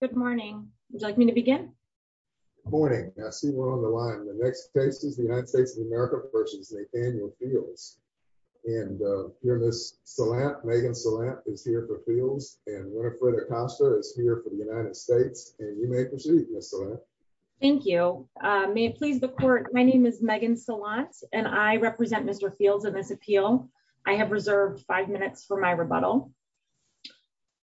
Good morning. Would you like me to begin? Good morning. I see we're on the line. The next case is the United States of America v. Nathaniel Fields. And here Ms. Salant, Megan Salant, is here for Fields, and Winifred Acosta is here for the United States. And you may proceed, Ms. Salant. Thank you. May it please the Court, my name is Megan Salant, and I represent Mr. Fields in this appeal. I have reserved five minutes for my rebuttal.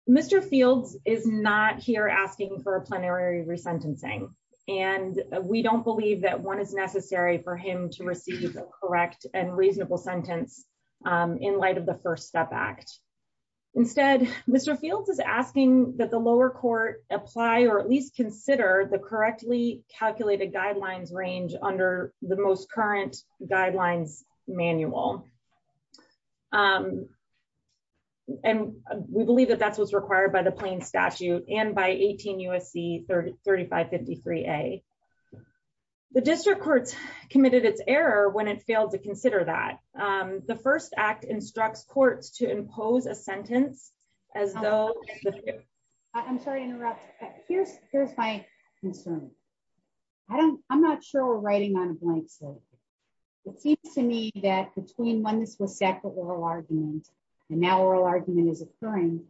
Mr. Fields is not here asking for a plenary resentencing, and we don't believe that one is necessary for him to receive a correct and reasonable sentence in light of the First Step Act. Instead, Mr. Fields is asking that the lower court apply or at least consider the correctly calculated guidelines range under the most current guidelines manual. And we believe that that's what's required by the plain statute and by 18 U.S.C. 3553A. The district courts committed its error when it failed to consider that. The First Act instructs courts to impose a sentence as though... I'm sorry to interrupt. Here's my concern. I'm not sure we're writing on a blank slate. It seems to me that between when this was set for oral argument, and now oral argument is occurring,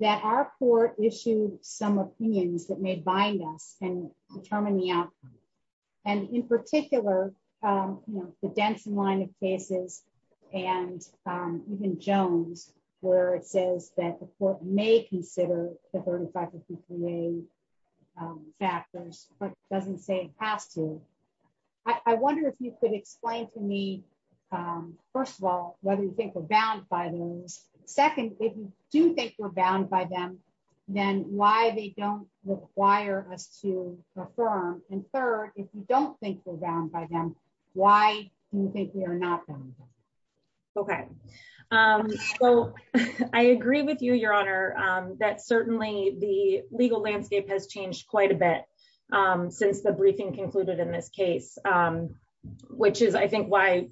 that our court issued some opinions that may bind us and determine the outcome. And in particular, the Denson line of cases, and even Jones, where it says that the court may consider the 3553A factors, but doesn't say it has to. I wonder if you could explain to me, first of all, whether you think we're bound by those. Second, if you do think we're bound by them, then why they don't require us to affirm. And third, if you don't think we're bound by them, why do you think we are not bound by them? Okay. So I agree with you, Your Honor, that certainly the legal landscape has changed quite a bit since the briefing concluded in this case, which is I think why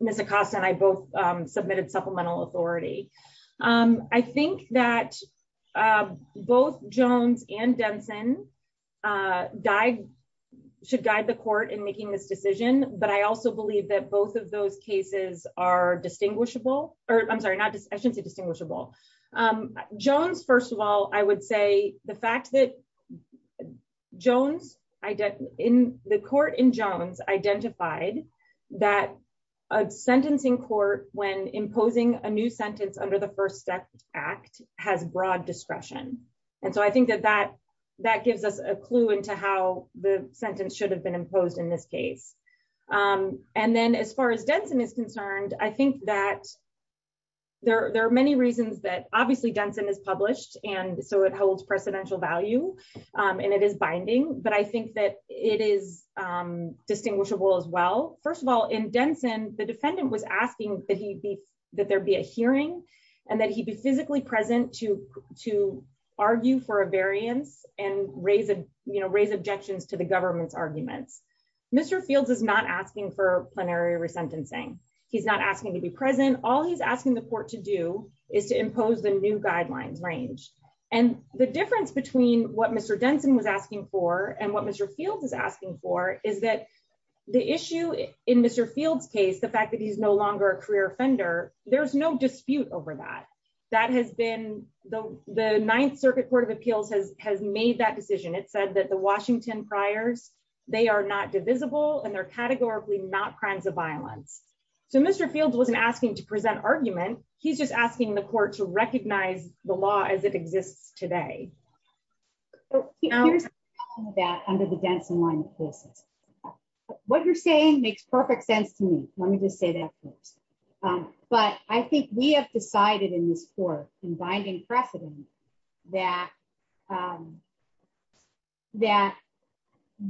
Ms. Acosta and I both submitted supplemental authority. I think that both Jones and Denson should guide the court in making this decision, but I also believe that both of those cases are distinguishable. I'm sorry, I shouldn't say distinguishable. Jones, first of all, I would say the fact that the court in Jones identified that a sentencing court, when imposing a new sentence under the First Act, has broad discretion. And so I think that that gives us a clue into how the sentence should have been imposed in this case. And then as far as Denson is concerned, I think that there are many reasons that obviously Denson is published, and so it holds precedential value, and it is binding, but I think that it is distinguishable as well. First of all, in Denson, the defendant was asking that there be a hearing and that he be physically present to argue for a variance and raise objections to the government's arguments. Mr. Fields is not asking for plenary resentencing. He's not asking to be present. All he's asking the court to do is to impose the new guidelines range. And the difference between what Mr. Denson was asking for and what Mr. Fields is asking for is that the issue in Mr. Fields case, the fact that he's no longer a career offender, there's no dispute over that. That has been the Ninth Circuit Court of Appeals has made that decision. It said that the Washington priors, they are not divisible and they're categorically not crimes of violence. So Mr. Fields wasn't asking to present argument, he's just asking the court to recognize the law as it exists today. Here's that under the Denson line of cases. What you're saying makes perfect sense to me. Let me just say that first. But I think we have decided in this court, in binding precedent, that that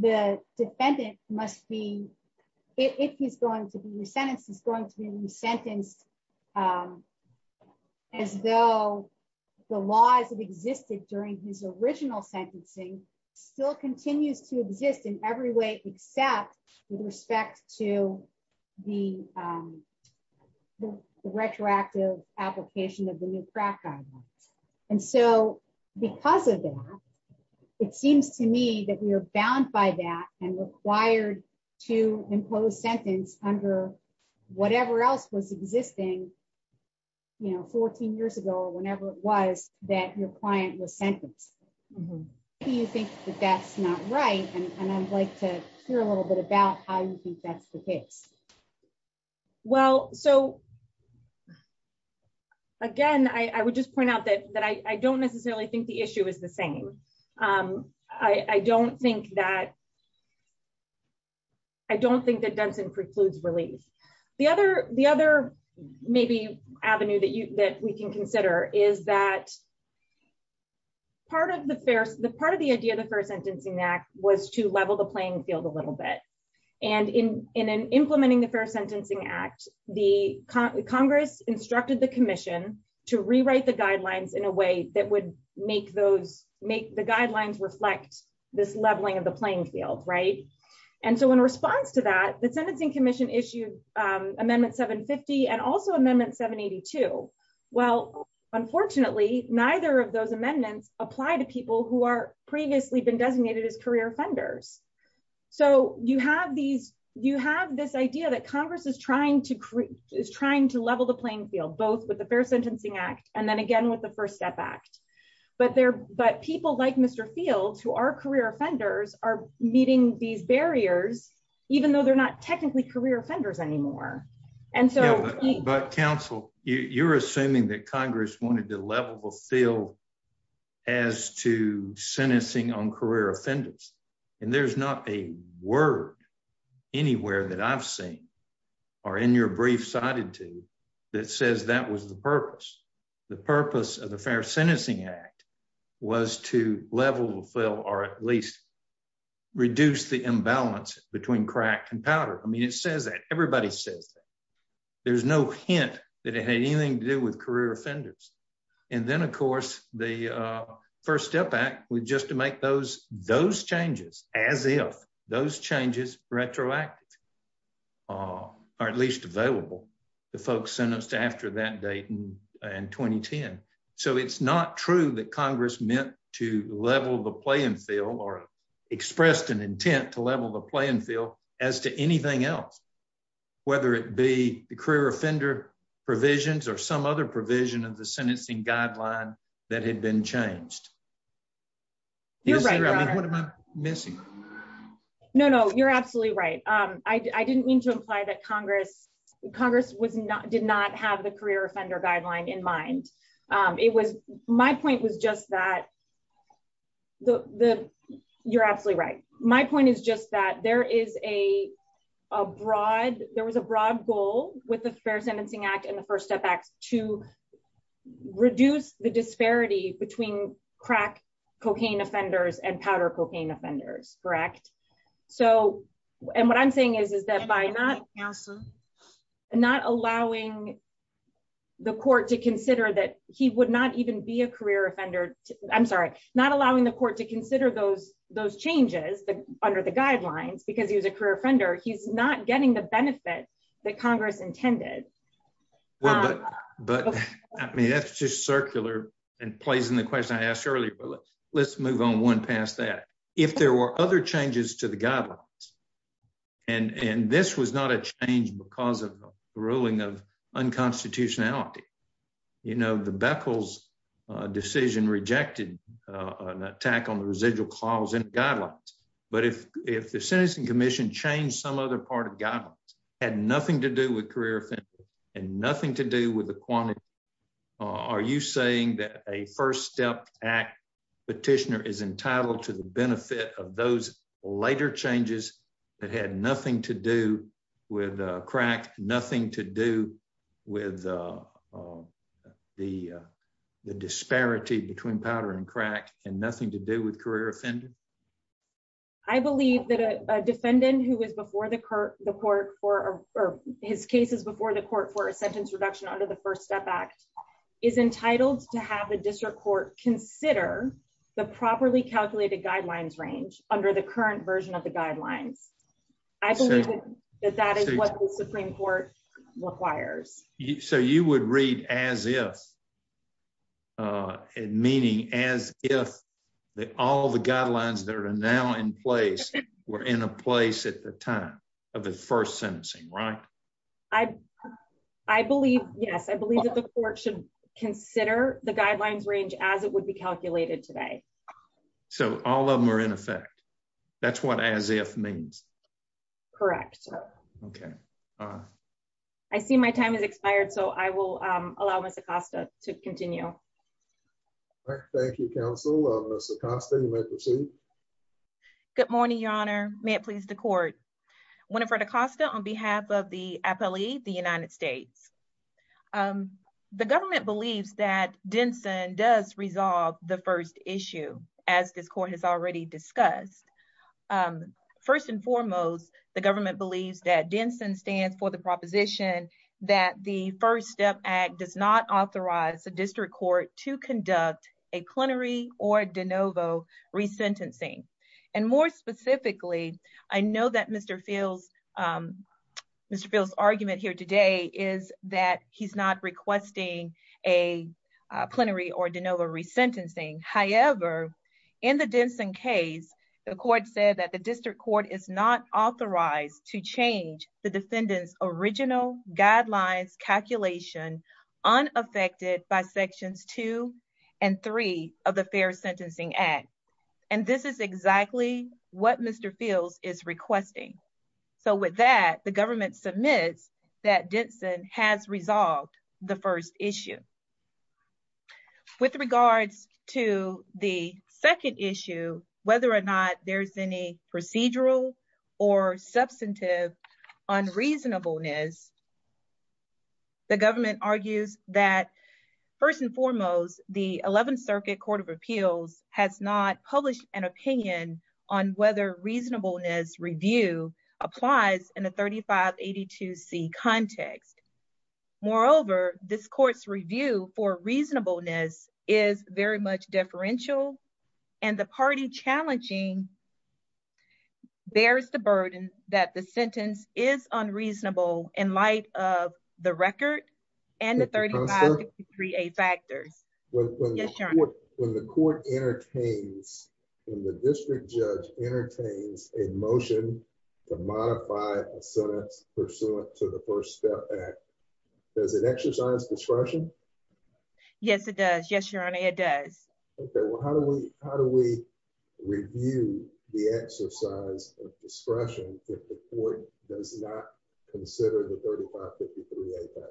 the defendant must be, if he's going to be resentenced, is going to be resentenced as though the laws that existed during his original sentencing still continues to exist in every way except with respect to the It seems to me that we are bound by that and required to impose sentence under whatever else was existing, you know, 14 years ago or whenever it was, that your client was sentenced. Do you think that that's not right? And I'd like to hear a little bit about how you think that's the case. Well, so, again, I would just point out that that I don't necessarily think the issue is the same. I don't think that I don't think that Denson precludes relief. The other, the other maybe avenue that you that we can consider is that Part of the idea of the Fair Sentencing Act was to level the playing field a little bit. And in implementing the Fair Sentencing Act, the Congress instructed the commission to rewrite the guidelines in a way that would make those make the guidelines reflect this leveling of the playing field. Right. Well, unfortunately, neither of those amendments apply to people who are previously been designated as career offenders. So you have these, you have this idea that Congress is trying to is trying to level the playing field, both with the Fair Sentencing Act, and then again with the First Step Act. But there, but people like Mr. Fields who are career offenders are meeting these barriers, even though they're not technically career offenders anymore. But counsel, you're assuming that Congress wanted to level the field as to sentencing on career offenders. And there's not a word anywhere that I've seen Or in your brief cited to that says that was the purpose. The purpose of the Fair Sentencing Act was to level the field or at least reduce the imbalance between crack and powder. I mean, it says that everybody says there's no hint that it had anything to do with career offenders. And then, of course, the First Step Act was just to make those, those changes as if those changes retroactive, or at least available to folks sentenced after that date in 2010. So it's not true that Congress meant to level the playing field or expressed an intent to level the playing field, as to anything else, whether it be the career offender provisions or some other provision of the sentencing guideline that had been changed. You're missing. No, no, you're absolutely right. I didn't mean to imply that Congress, Congress was not did not have the career offender guideline in mind. It was my point was just that the, the, you're absolutely right. My point is just that there is a broad, there was a broad goal with the Fair Sentencing Act and the First Step Act to reduce the disparity between crack cocaine offenders and powder cocaine offenders, correct. So, and what I'm saying is, is that by not not allowing the court to consider that he would not even be a career offender. I'm sorry, not allowing the court to consider those, those changes that under the guidelines because he was a career offender he's not getting the benefit that Congress intended. But, I mean that's just circular and plays in the question I asked earlier, let's move on one past that, if there were other changes to the guidelines. And, and this was not a change because of the ruling of unconstitutionality. You know the Beckles decision rejected an attack on the residual clause in guidelines. But if, if the sentencing commission change some other part of God had nothing to do with career and nothing to do with the quantity. Are you saying that a First Step Act petitioner is entitled to the benefit of those later changes that had nothing to do with crack, nothing to do with the disparity between powder and crack, and nothing to do with career offended. I believe that a defendant who was before the court, the court for his cases before the court for a sentence reduction under the First Step Act is entitled to have a district court consider the properly calculated guidelines range under the current version of the guidelines. I believe that that is what the Supreme Court requires you so you would read as if it meaning as if the all the guidelines that are now in place. We're in a place at the time of the first sentence, right. I, I believe, yes I believe that the court should consider the guidelines range as it would be calculated today. So, all of them are in effect. That's what as if means. Correct. Okay. I see my time is expired so I will allow us to Costa to continue. Thank you. Good morning, Your Honor, may it please the court. On behalf of the appellee, the United States. The government believes that Denson does resolve the first issue, as this court has already discussed. First and foremost, the government believes that Denson stands for the proposition that the First Step Act does not authorize the district court to conduct a plenary or de novo resentencing, and more specifically, I know that Mr. feels Mr feels argument here today is that he's not requesting a plenary or de novo resentencing, however, in the Denson case, the court said that the district court is not authorized to change the defendants original guidelines calculation unaffected by sections two and three of the Fair Sentencing Act. And this is exactly what Mr fields is requesting. So with that, the government submits that Denson has resolved the first issue. With regards to the second issue, whether or not there's any procedural or substantive on reasonableness. The government argues that, first and foremost, the 11th Circuit Court of Appeals has not published an opinion on whether reasonableness review applies in a 3582 see context. Moreover, this court's review for reasonableness is very much differential, and the party challenging bears the burden that the sentence is unreasonable in light of the record, and the 353 a factors. When the court entertains the district judge entertains a motion to modify a sentence pursuant to the First Step Act. Does it exercise discretion. Yes, it does. Yes, your honor, it does. Okay, well how do we, how do we review the exercise of discretion report does not consider the 3553 a factors.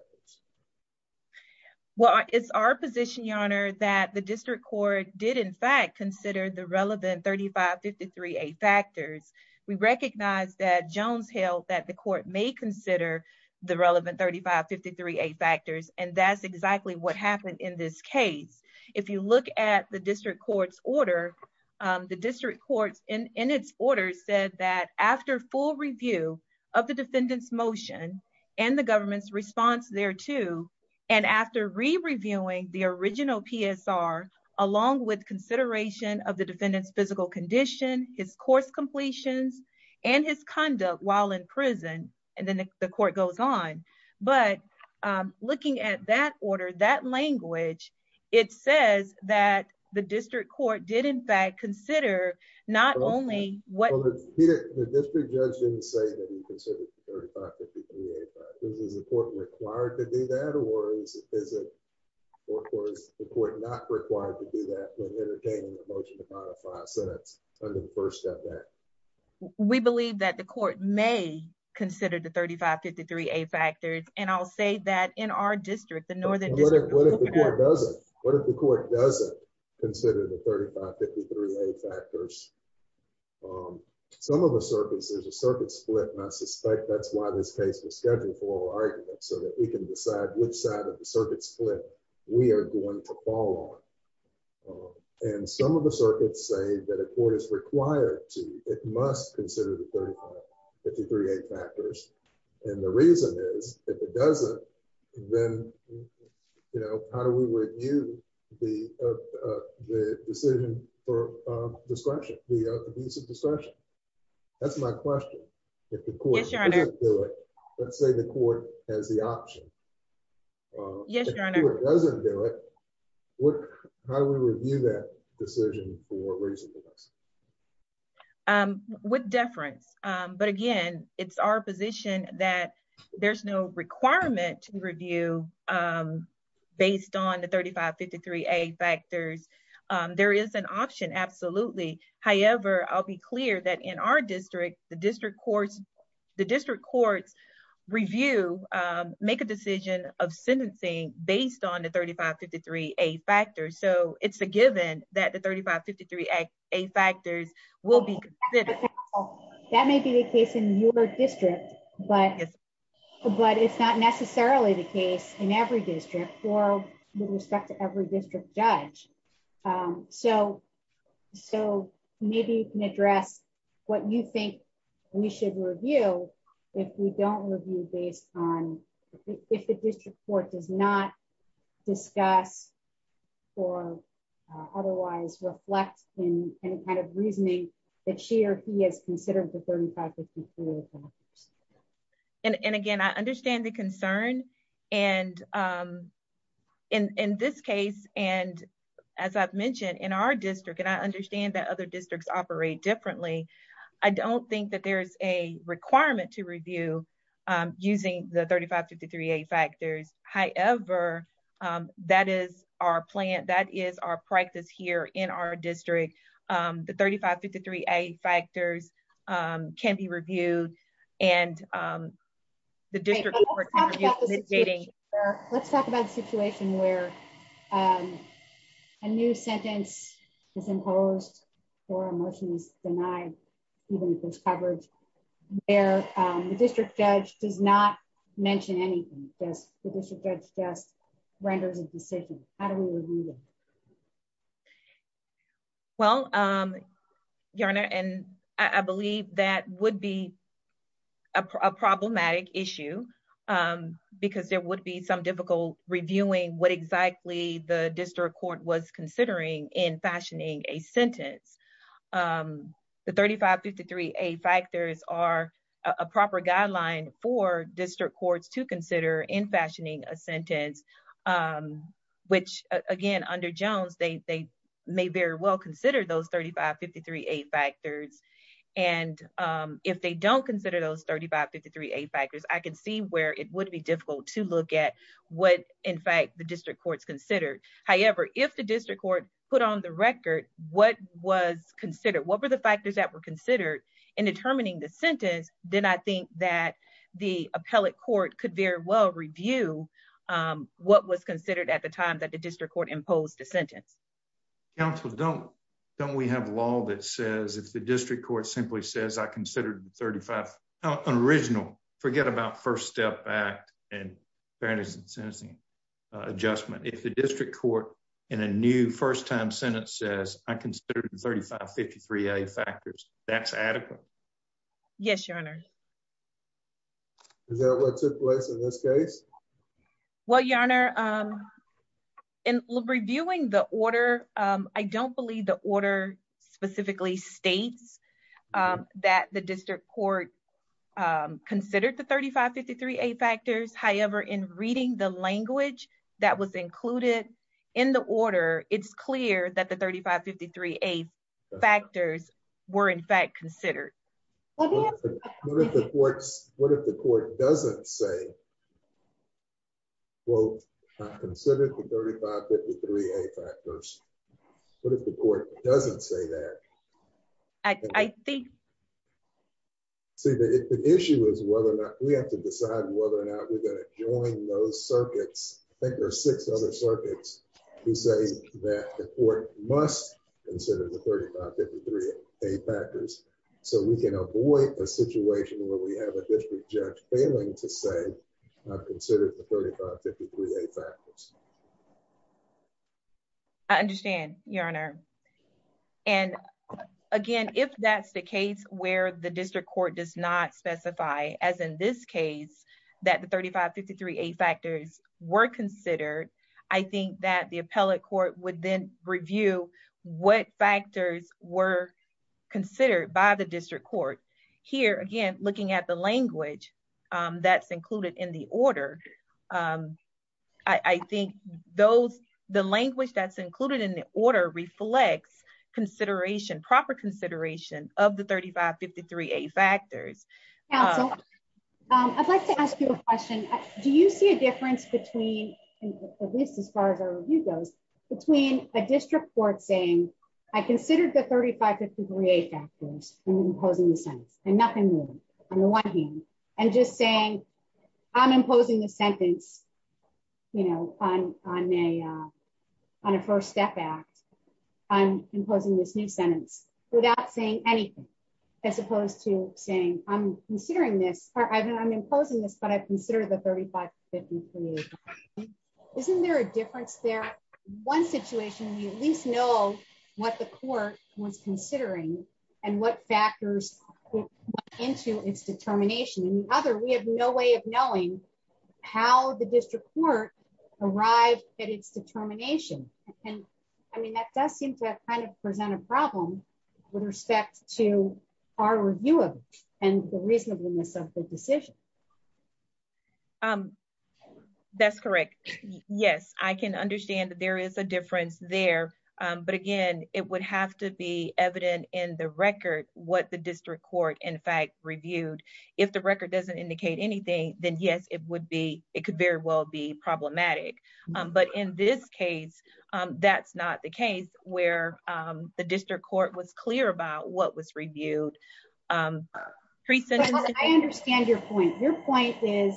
Well, it's our position your honor that the district court did in fact consider the relevant 3553 a factors, we recognize that Jones Hill that the court may consider the relevant 3553 a factors and that's exactly what happened in this case. If you look at the district courts order the district courts in its order said that after full review of the defendants motion, and the government's response there too. And after re reviewing the original PSR, along with consideration of the defendants physical condition, his course completions and his conduct while in prison, and then the court goes on. But looking at that order that language. It says that the district court did in fact consider, not only what the district judge didn't say that he considered 3553 a factors, is the court required to do that or is it, or is the court not required to do that when entertaining a motion to modify a sentence under the First Step Act. We believe that the court may consider the 3553 a factors, and I'll say that in our district the northern district. What if the court doesn't consider the 3553 a factors. Some of the circuits, there's a circuit split and I suspect that's why this case was scheduled for argument so that we can decide which side of the circuit split, we are going to fall on. And some of the circuits say that a court is required to, it must consider the 3553 a factors. And the reason is, if it doesn't, then, you know, how do we review the decision for discretion, the use of discretion. That's my question. Let's say the court has the option. Yes, Your Honor. What, how do we review that decision for reasonable. With deference, but again, it's our position that there's no requirement to review, based on the 3553 a factors. There is an option. Absolutely. However, I'll be clear that in our district, the district courts, the district courts review, make a decision of sentencing, based on the 3553 a factors so it's a given that the 3553 a factors will be. That may be the case in your district, but, but it's not necessarily the case in every district for respect to every district judge. So, so maybe you can address what you think we should review. If we don't review based on if the district court does not discuss or otherwise reflect in any kind of reasoning that she or he has considered the 3553 a factors. And again, I understand the concern. And in this case, and as I've mentioned in our district and I understand that other districts operate differently. I don't think that there's a requirement to review, using the 3553 a factors, however, that is our plan that is our practice here in our district. The 3553 a factors can be reviewed, and the district. Let's talk about the situation where a new sentence is imposed or emotions, denied, even if there's coverage there. The district judge does not mention anything, just the district judge just renders a decision. How do we review. Well, I'm gonna and I believe that would be a problematic issue, because there would be some difficult reviewing what exactly the district court was considering in fashioning a sentence. The 3553 a factors are a proper guideline for district courts to consider in fashioning a sentence, which, again, under Jones, they may very well consider those 3553 a factors. And if they don't consider those 3553 a factors I can see where it would be difficult to look at what, in fact, the district courts considered. However, if the district court, put on the record, what was considered what were the factors that were considered in determining the sentence, then I think that the appellate court could very well review. What was considered at the time that the district court imposed the sentence. Council don't don't we have law that says if the district court simply says I considered 35 original forget about first step back and fairness and sensing adjustment if the district court in a new first time sentence says I considered 3553 a factors, that's adequate. Yes, your honor. Is that what took place in this case. Well, your honor. In reviewing the order. I don't believe the order specifically states that the district court considered the 3553 a factors however in reading the language that was included in the order, it's clear that the 3553 a factors were in fact considered. What if the courts, what if the court doesn't say, quote, considered the 3553 a factors. What if the court doesn't say that. I think. See the issue is whether or not we have to decide whether or not we're going to join those circuits. I think there are six other circuits, who say that the court must consider the 3553 a factors. So we can avoid a situation where we have a district judge failing to say I've considered the 3553 a factors. I understand, your honor. And again, if that's the case where the district court does not specify as in this case that the 3553 a factors were considered. I think that the appellate court would then review what factors were considered by the district court here again looking at the language that's included in the order. I think those the language that's included in the order reflects consideration proper consideration of the 3553 a factors. I'd like to ask you a question. Do you see a difference between this as far as our view goes, between a district court saying, I considered the 3553 a factors, and imposing the sentence, and nothing on the one hand, and just saying, I'm imposing a sentence, you know, on a, on a first step act. I'm imposing this new sentence, without saying anything, as opposed to saying, I'm considering this, or I'm imposing this but I consider the 3553. Isn't there a difference there. One situation you at least know what the court was considering, and what factors into its determination and other we have no way of knowing how the district court arrived at its determination. I mean that does seem to kind of present a problem with respect to our view of, and the reasonableness of the decision. That's correct. Yes, I can understand that there is a difference there. But again, it would have to be evident in the record, what the district court in fact reviewed. If the record doesn't indicate anything, then yes, it would be, it could very well be problematic. But in this case, that's not the case where the district court was clear about what was reviewed. I understand your point, your point is,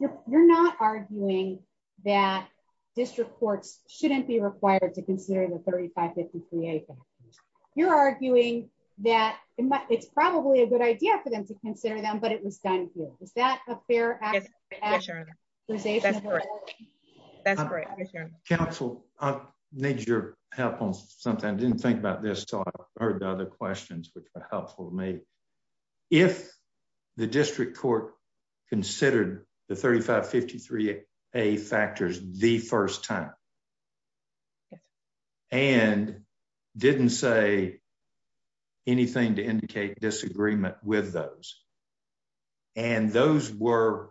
you're not arguing that district courts shouldn't be required to consider the 3553. You're arguing that it's probably a good idea for them to consider them but it was done. Is that a fair. That's great. Council needs your help on something I didn't think about this so I heard the other questions which were helpful to me. If the district court considered the 3553 a factors, the first time. And didn't say anything to indicate disagreement with those. And those were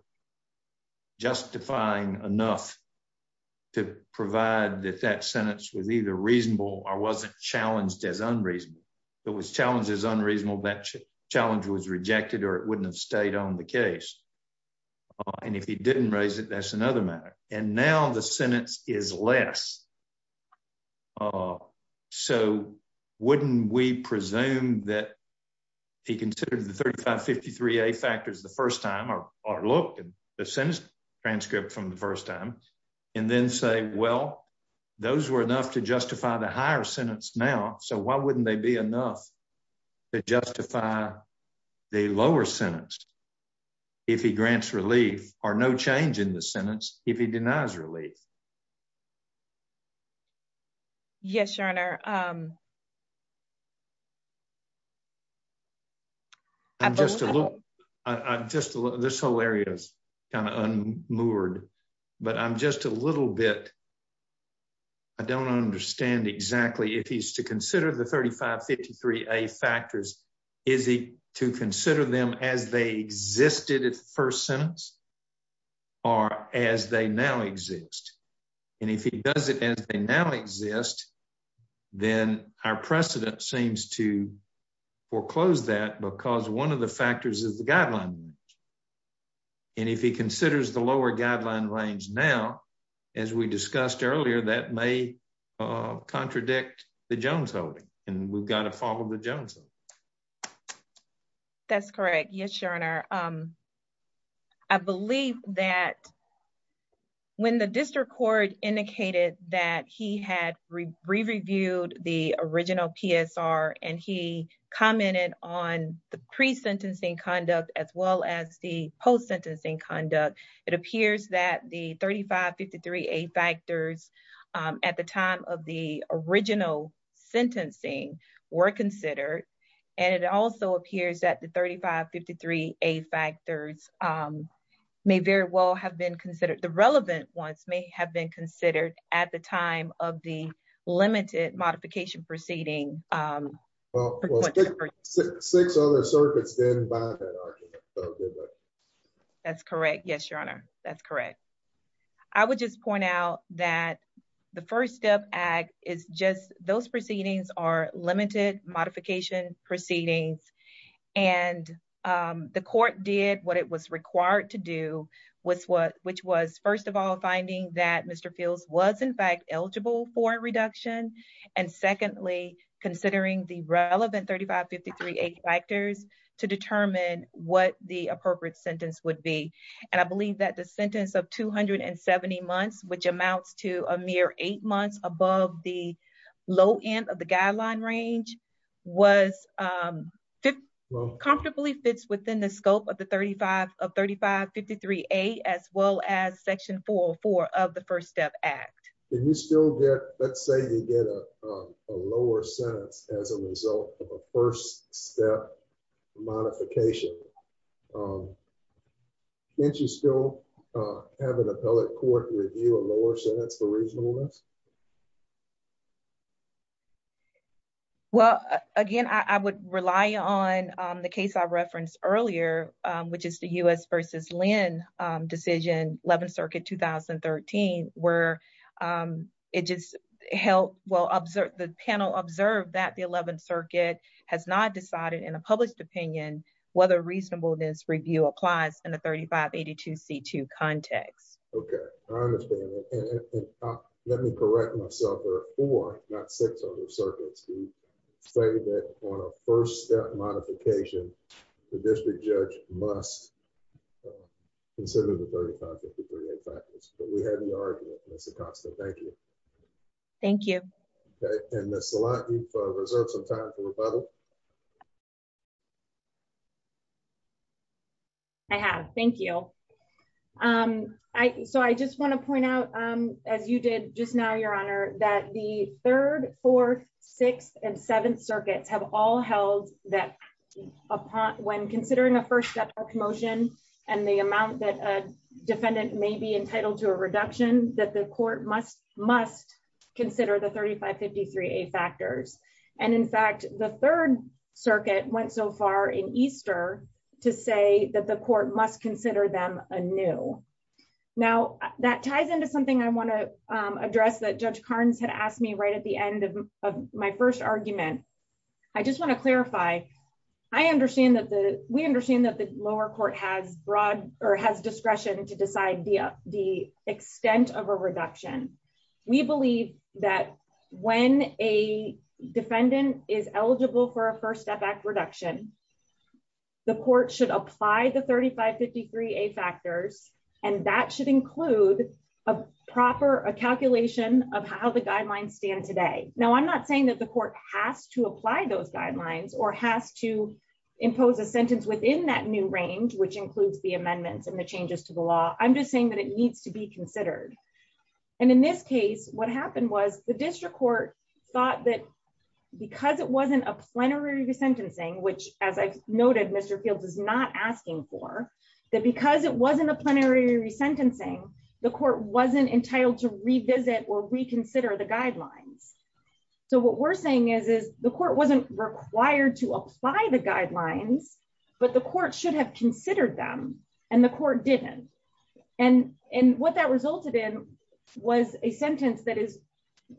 justifying enough to provide that that sentence was either reasonable or wasn't challenged as unreasonable. It was challenged as unreasonable that challenge was rejected or it wouldn't have stayed on the case. And if he didn't raise it, that's another matter. And now the sentence is less. So, wouldn't we presume that he considered the 3553 a factors the first time or look at the sentence transcript from the first time, and then say, well, those were enough to justify the higher sentence now so why wouldn't they be enough to justify the lower sentence. If he grants relief, or no change in the sentence, if he denies relief. Yes, Your Honor. I'm just a little. I'm just a little this whole area is kind of unmoored, but I'm just a little bit. I don't understand exactly if he's to consider the 3553 a factors. Is he to consider them as they existed at first sentence, or as they now exist. And if he does it as they now exist, then our precedent seems to foreclose that because one of the factors is the guideline. And if he considers the lower guideline range now, as we discussed earlier that may contradict the Jones holding, and we've got to follow the Jones. That's correct. Yes, Your Honor. I believe that when the district court indicated that he had reviewed the original PSR, and he commented on the pre sentencing conduct as well as the post sentencing conduct. It appears that the 3553 a factors. At the time of the original sentencing were considered, and it also appears that the 3553 a factors may very well have been considered the relevant ones may have been considered at the time of the limited modification proceeding. Six other circuits. That's correct. Yes, Your Honor. That's correct. I would just point out that the first step is just those proceedings are limited modification proceedings. And the court did what it was required to do was what, which was first of all finding that Mr fields was in fact eligible for reduction. And secondly, considering the relevant 3553 a factors to determine what the appropriate sentence would be. And I believe that the sentence of 270 months, which amounts to a mere eight months above the low end of the guideline range was comfortably fits within the scope of the 35 of 3553 a as well as section 404 of the first step act. Can you still get, let's say you get a lower sentence as a result of a first step modification. Can you still have an appellate court review a lower sentence for reasonableness. Well, again, I would rely on the case I referenced earlier, which is the US versus Lynn decision 11th circuit 2013 where it just help well observe the panel observed that the 11th circuit has not decided in a published opinion, whether reasonableness review applies in the 3582 c2 context. Okay. Let me correct myself or not six other circuits, say that on a first step modification, the district judge must consider the 3553 a factors, but we had an argument, Mr. Thank you. Thank you. And that's a lot of time for rebuttal. I have. Thank you. I, so I just want to point out, as you did just now Your Honor, that the third, fourth, sixth and seventh circuits have all held that upon when considering a first step promotion, and the amount that defendant may be entitled to a reduction that the court must consider them a new. Now, that ties into something I want to address that judge Carnes had asked me right at the end of my first argument. I just want to clarify, I understand that the we understand that the lower court has broad or has discretion to decide the, the extent of a reduction. We believe that when a defendant is eligible for a first step back reduction. The court should apply the 3553 a factors, and that should include a proper calculation of how the guidelines stand today. Now I'm not saying that the court has to apply those guidelines or has to impose a sentence within that new range which includes the amendments and the changes to the law, I'm just saying that it needs to be considered. And in this case, what happened was the district court thought that because it wasn't a plenary resentencing which, as I've noted Mr fields is not asking for that because it wasn't a plenary resentencing, the court wasn't entitled to revisit or reconsider the guidelines. So what we're saying is is the court wasn't required to apply the guidelines, but the court should have considered them, and the court didn't. And, and what that resulted in was a sentence that is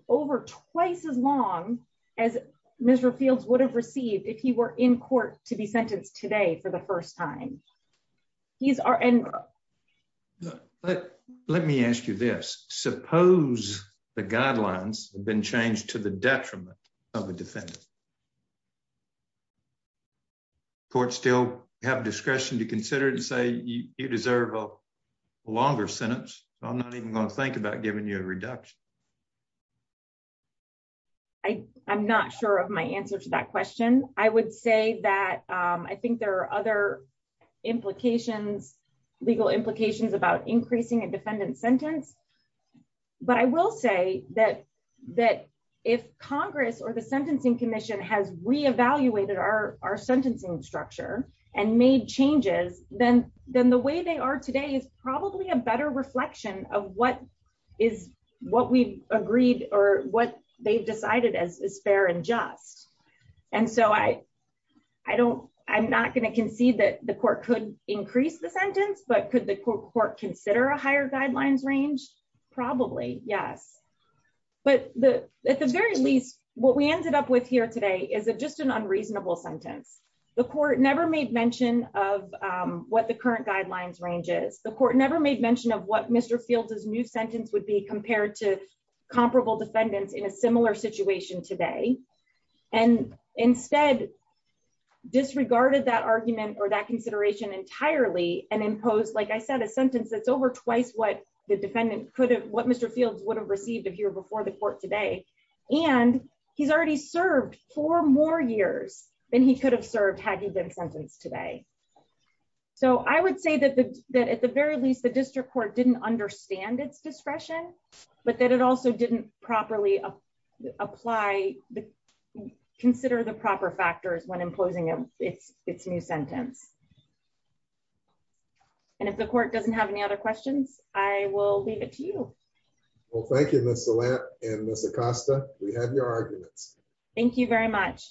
over twice as long as Mr fields would have received if he were in court to be sentenced today for the first time. He's our end. But let me ask you this, suppose, the guidelines have been changed to the detriment of a defendant court still have discretion to consider and say you deserve a longer sentence. I'm not even going to think about giving you a reduction. I, I'm not sure of my answer to that question, I would say that I think there are other implications legal implications about increasing a defendant sentence. But I will say that, that if Congress or the Sentencing Commission has reevaluated our, our sentencing structure and made changes, then, then the way they are today is probably a better reflection of what is what we agreed, or what they've decided as fair and just. And so I, I don't, I'm not going to concede that the court could increase the sentence but could the court consider a higher guidelines range. Probably, yes. But the, at the very least, what we ended up with here today is it just an unreasonable sentence, the court never made mention of what the current guidelines ranges the court never made mention of what Mr field is new sentence would be compared to comparable defendants in a similar situation today. And instead disregarded that argument or that consideration entirely and impose like I said a sentence that's over twice what the defendant could have what Mr fields would have received if you're before the court today. And he's already served for more years than he could have served had he been sentenced today. So I would say that the, that at the very least the district court didn't understand its discretion, but then it also didn't properly apply. Consider the proper factors when imposing it, it's, it's new sentence. And if the court doesn't have any other questions, I will leave it to you. Well, thank you, Mr lamp, and Mr Costa, we have your arguments. Thank you very much.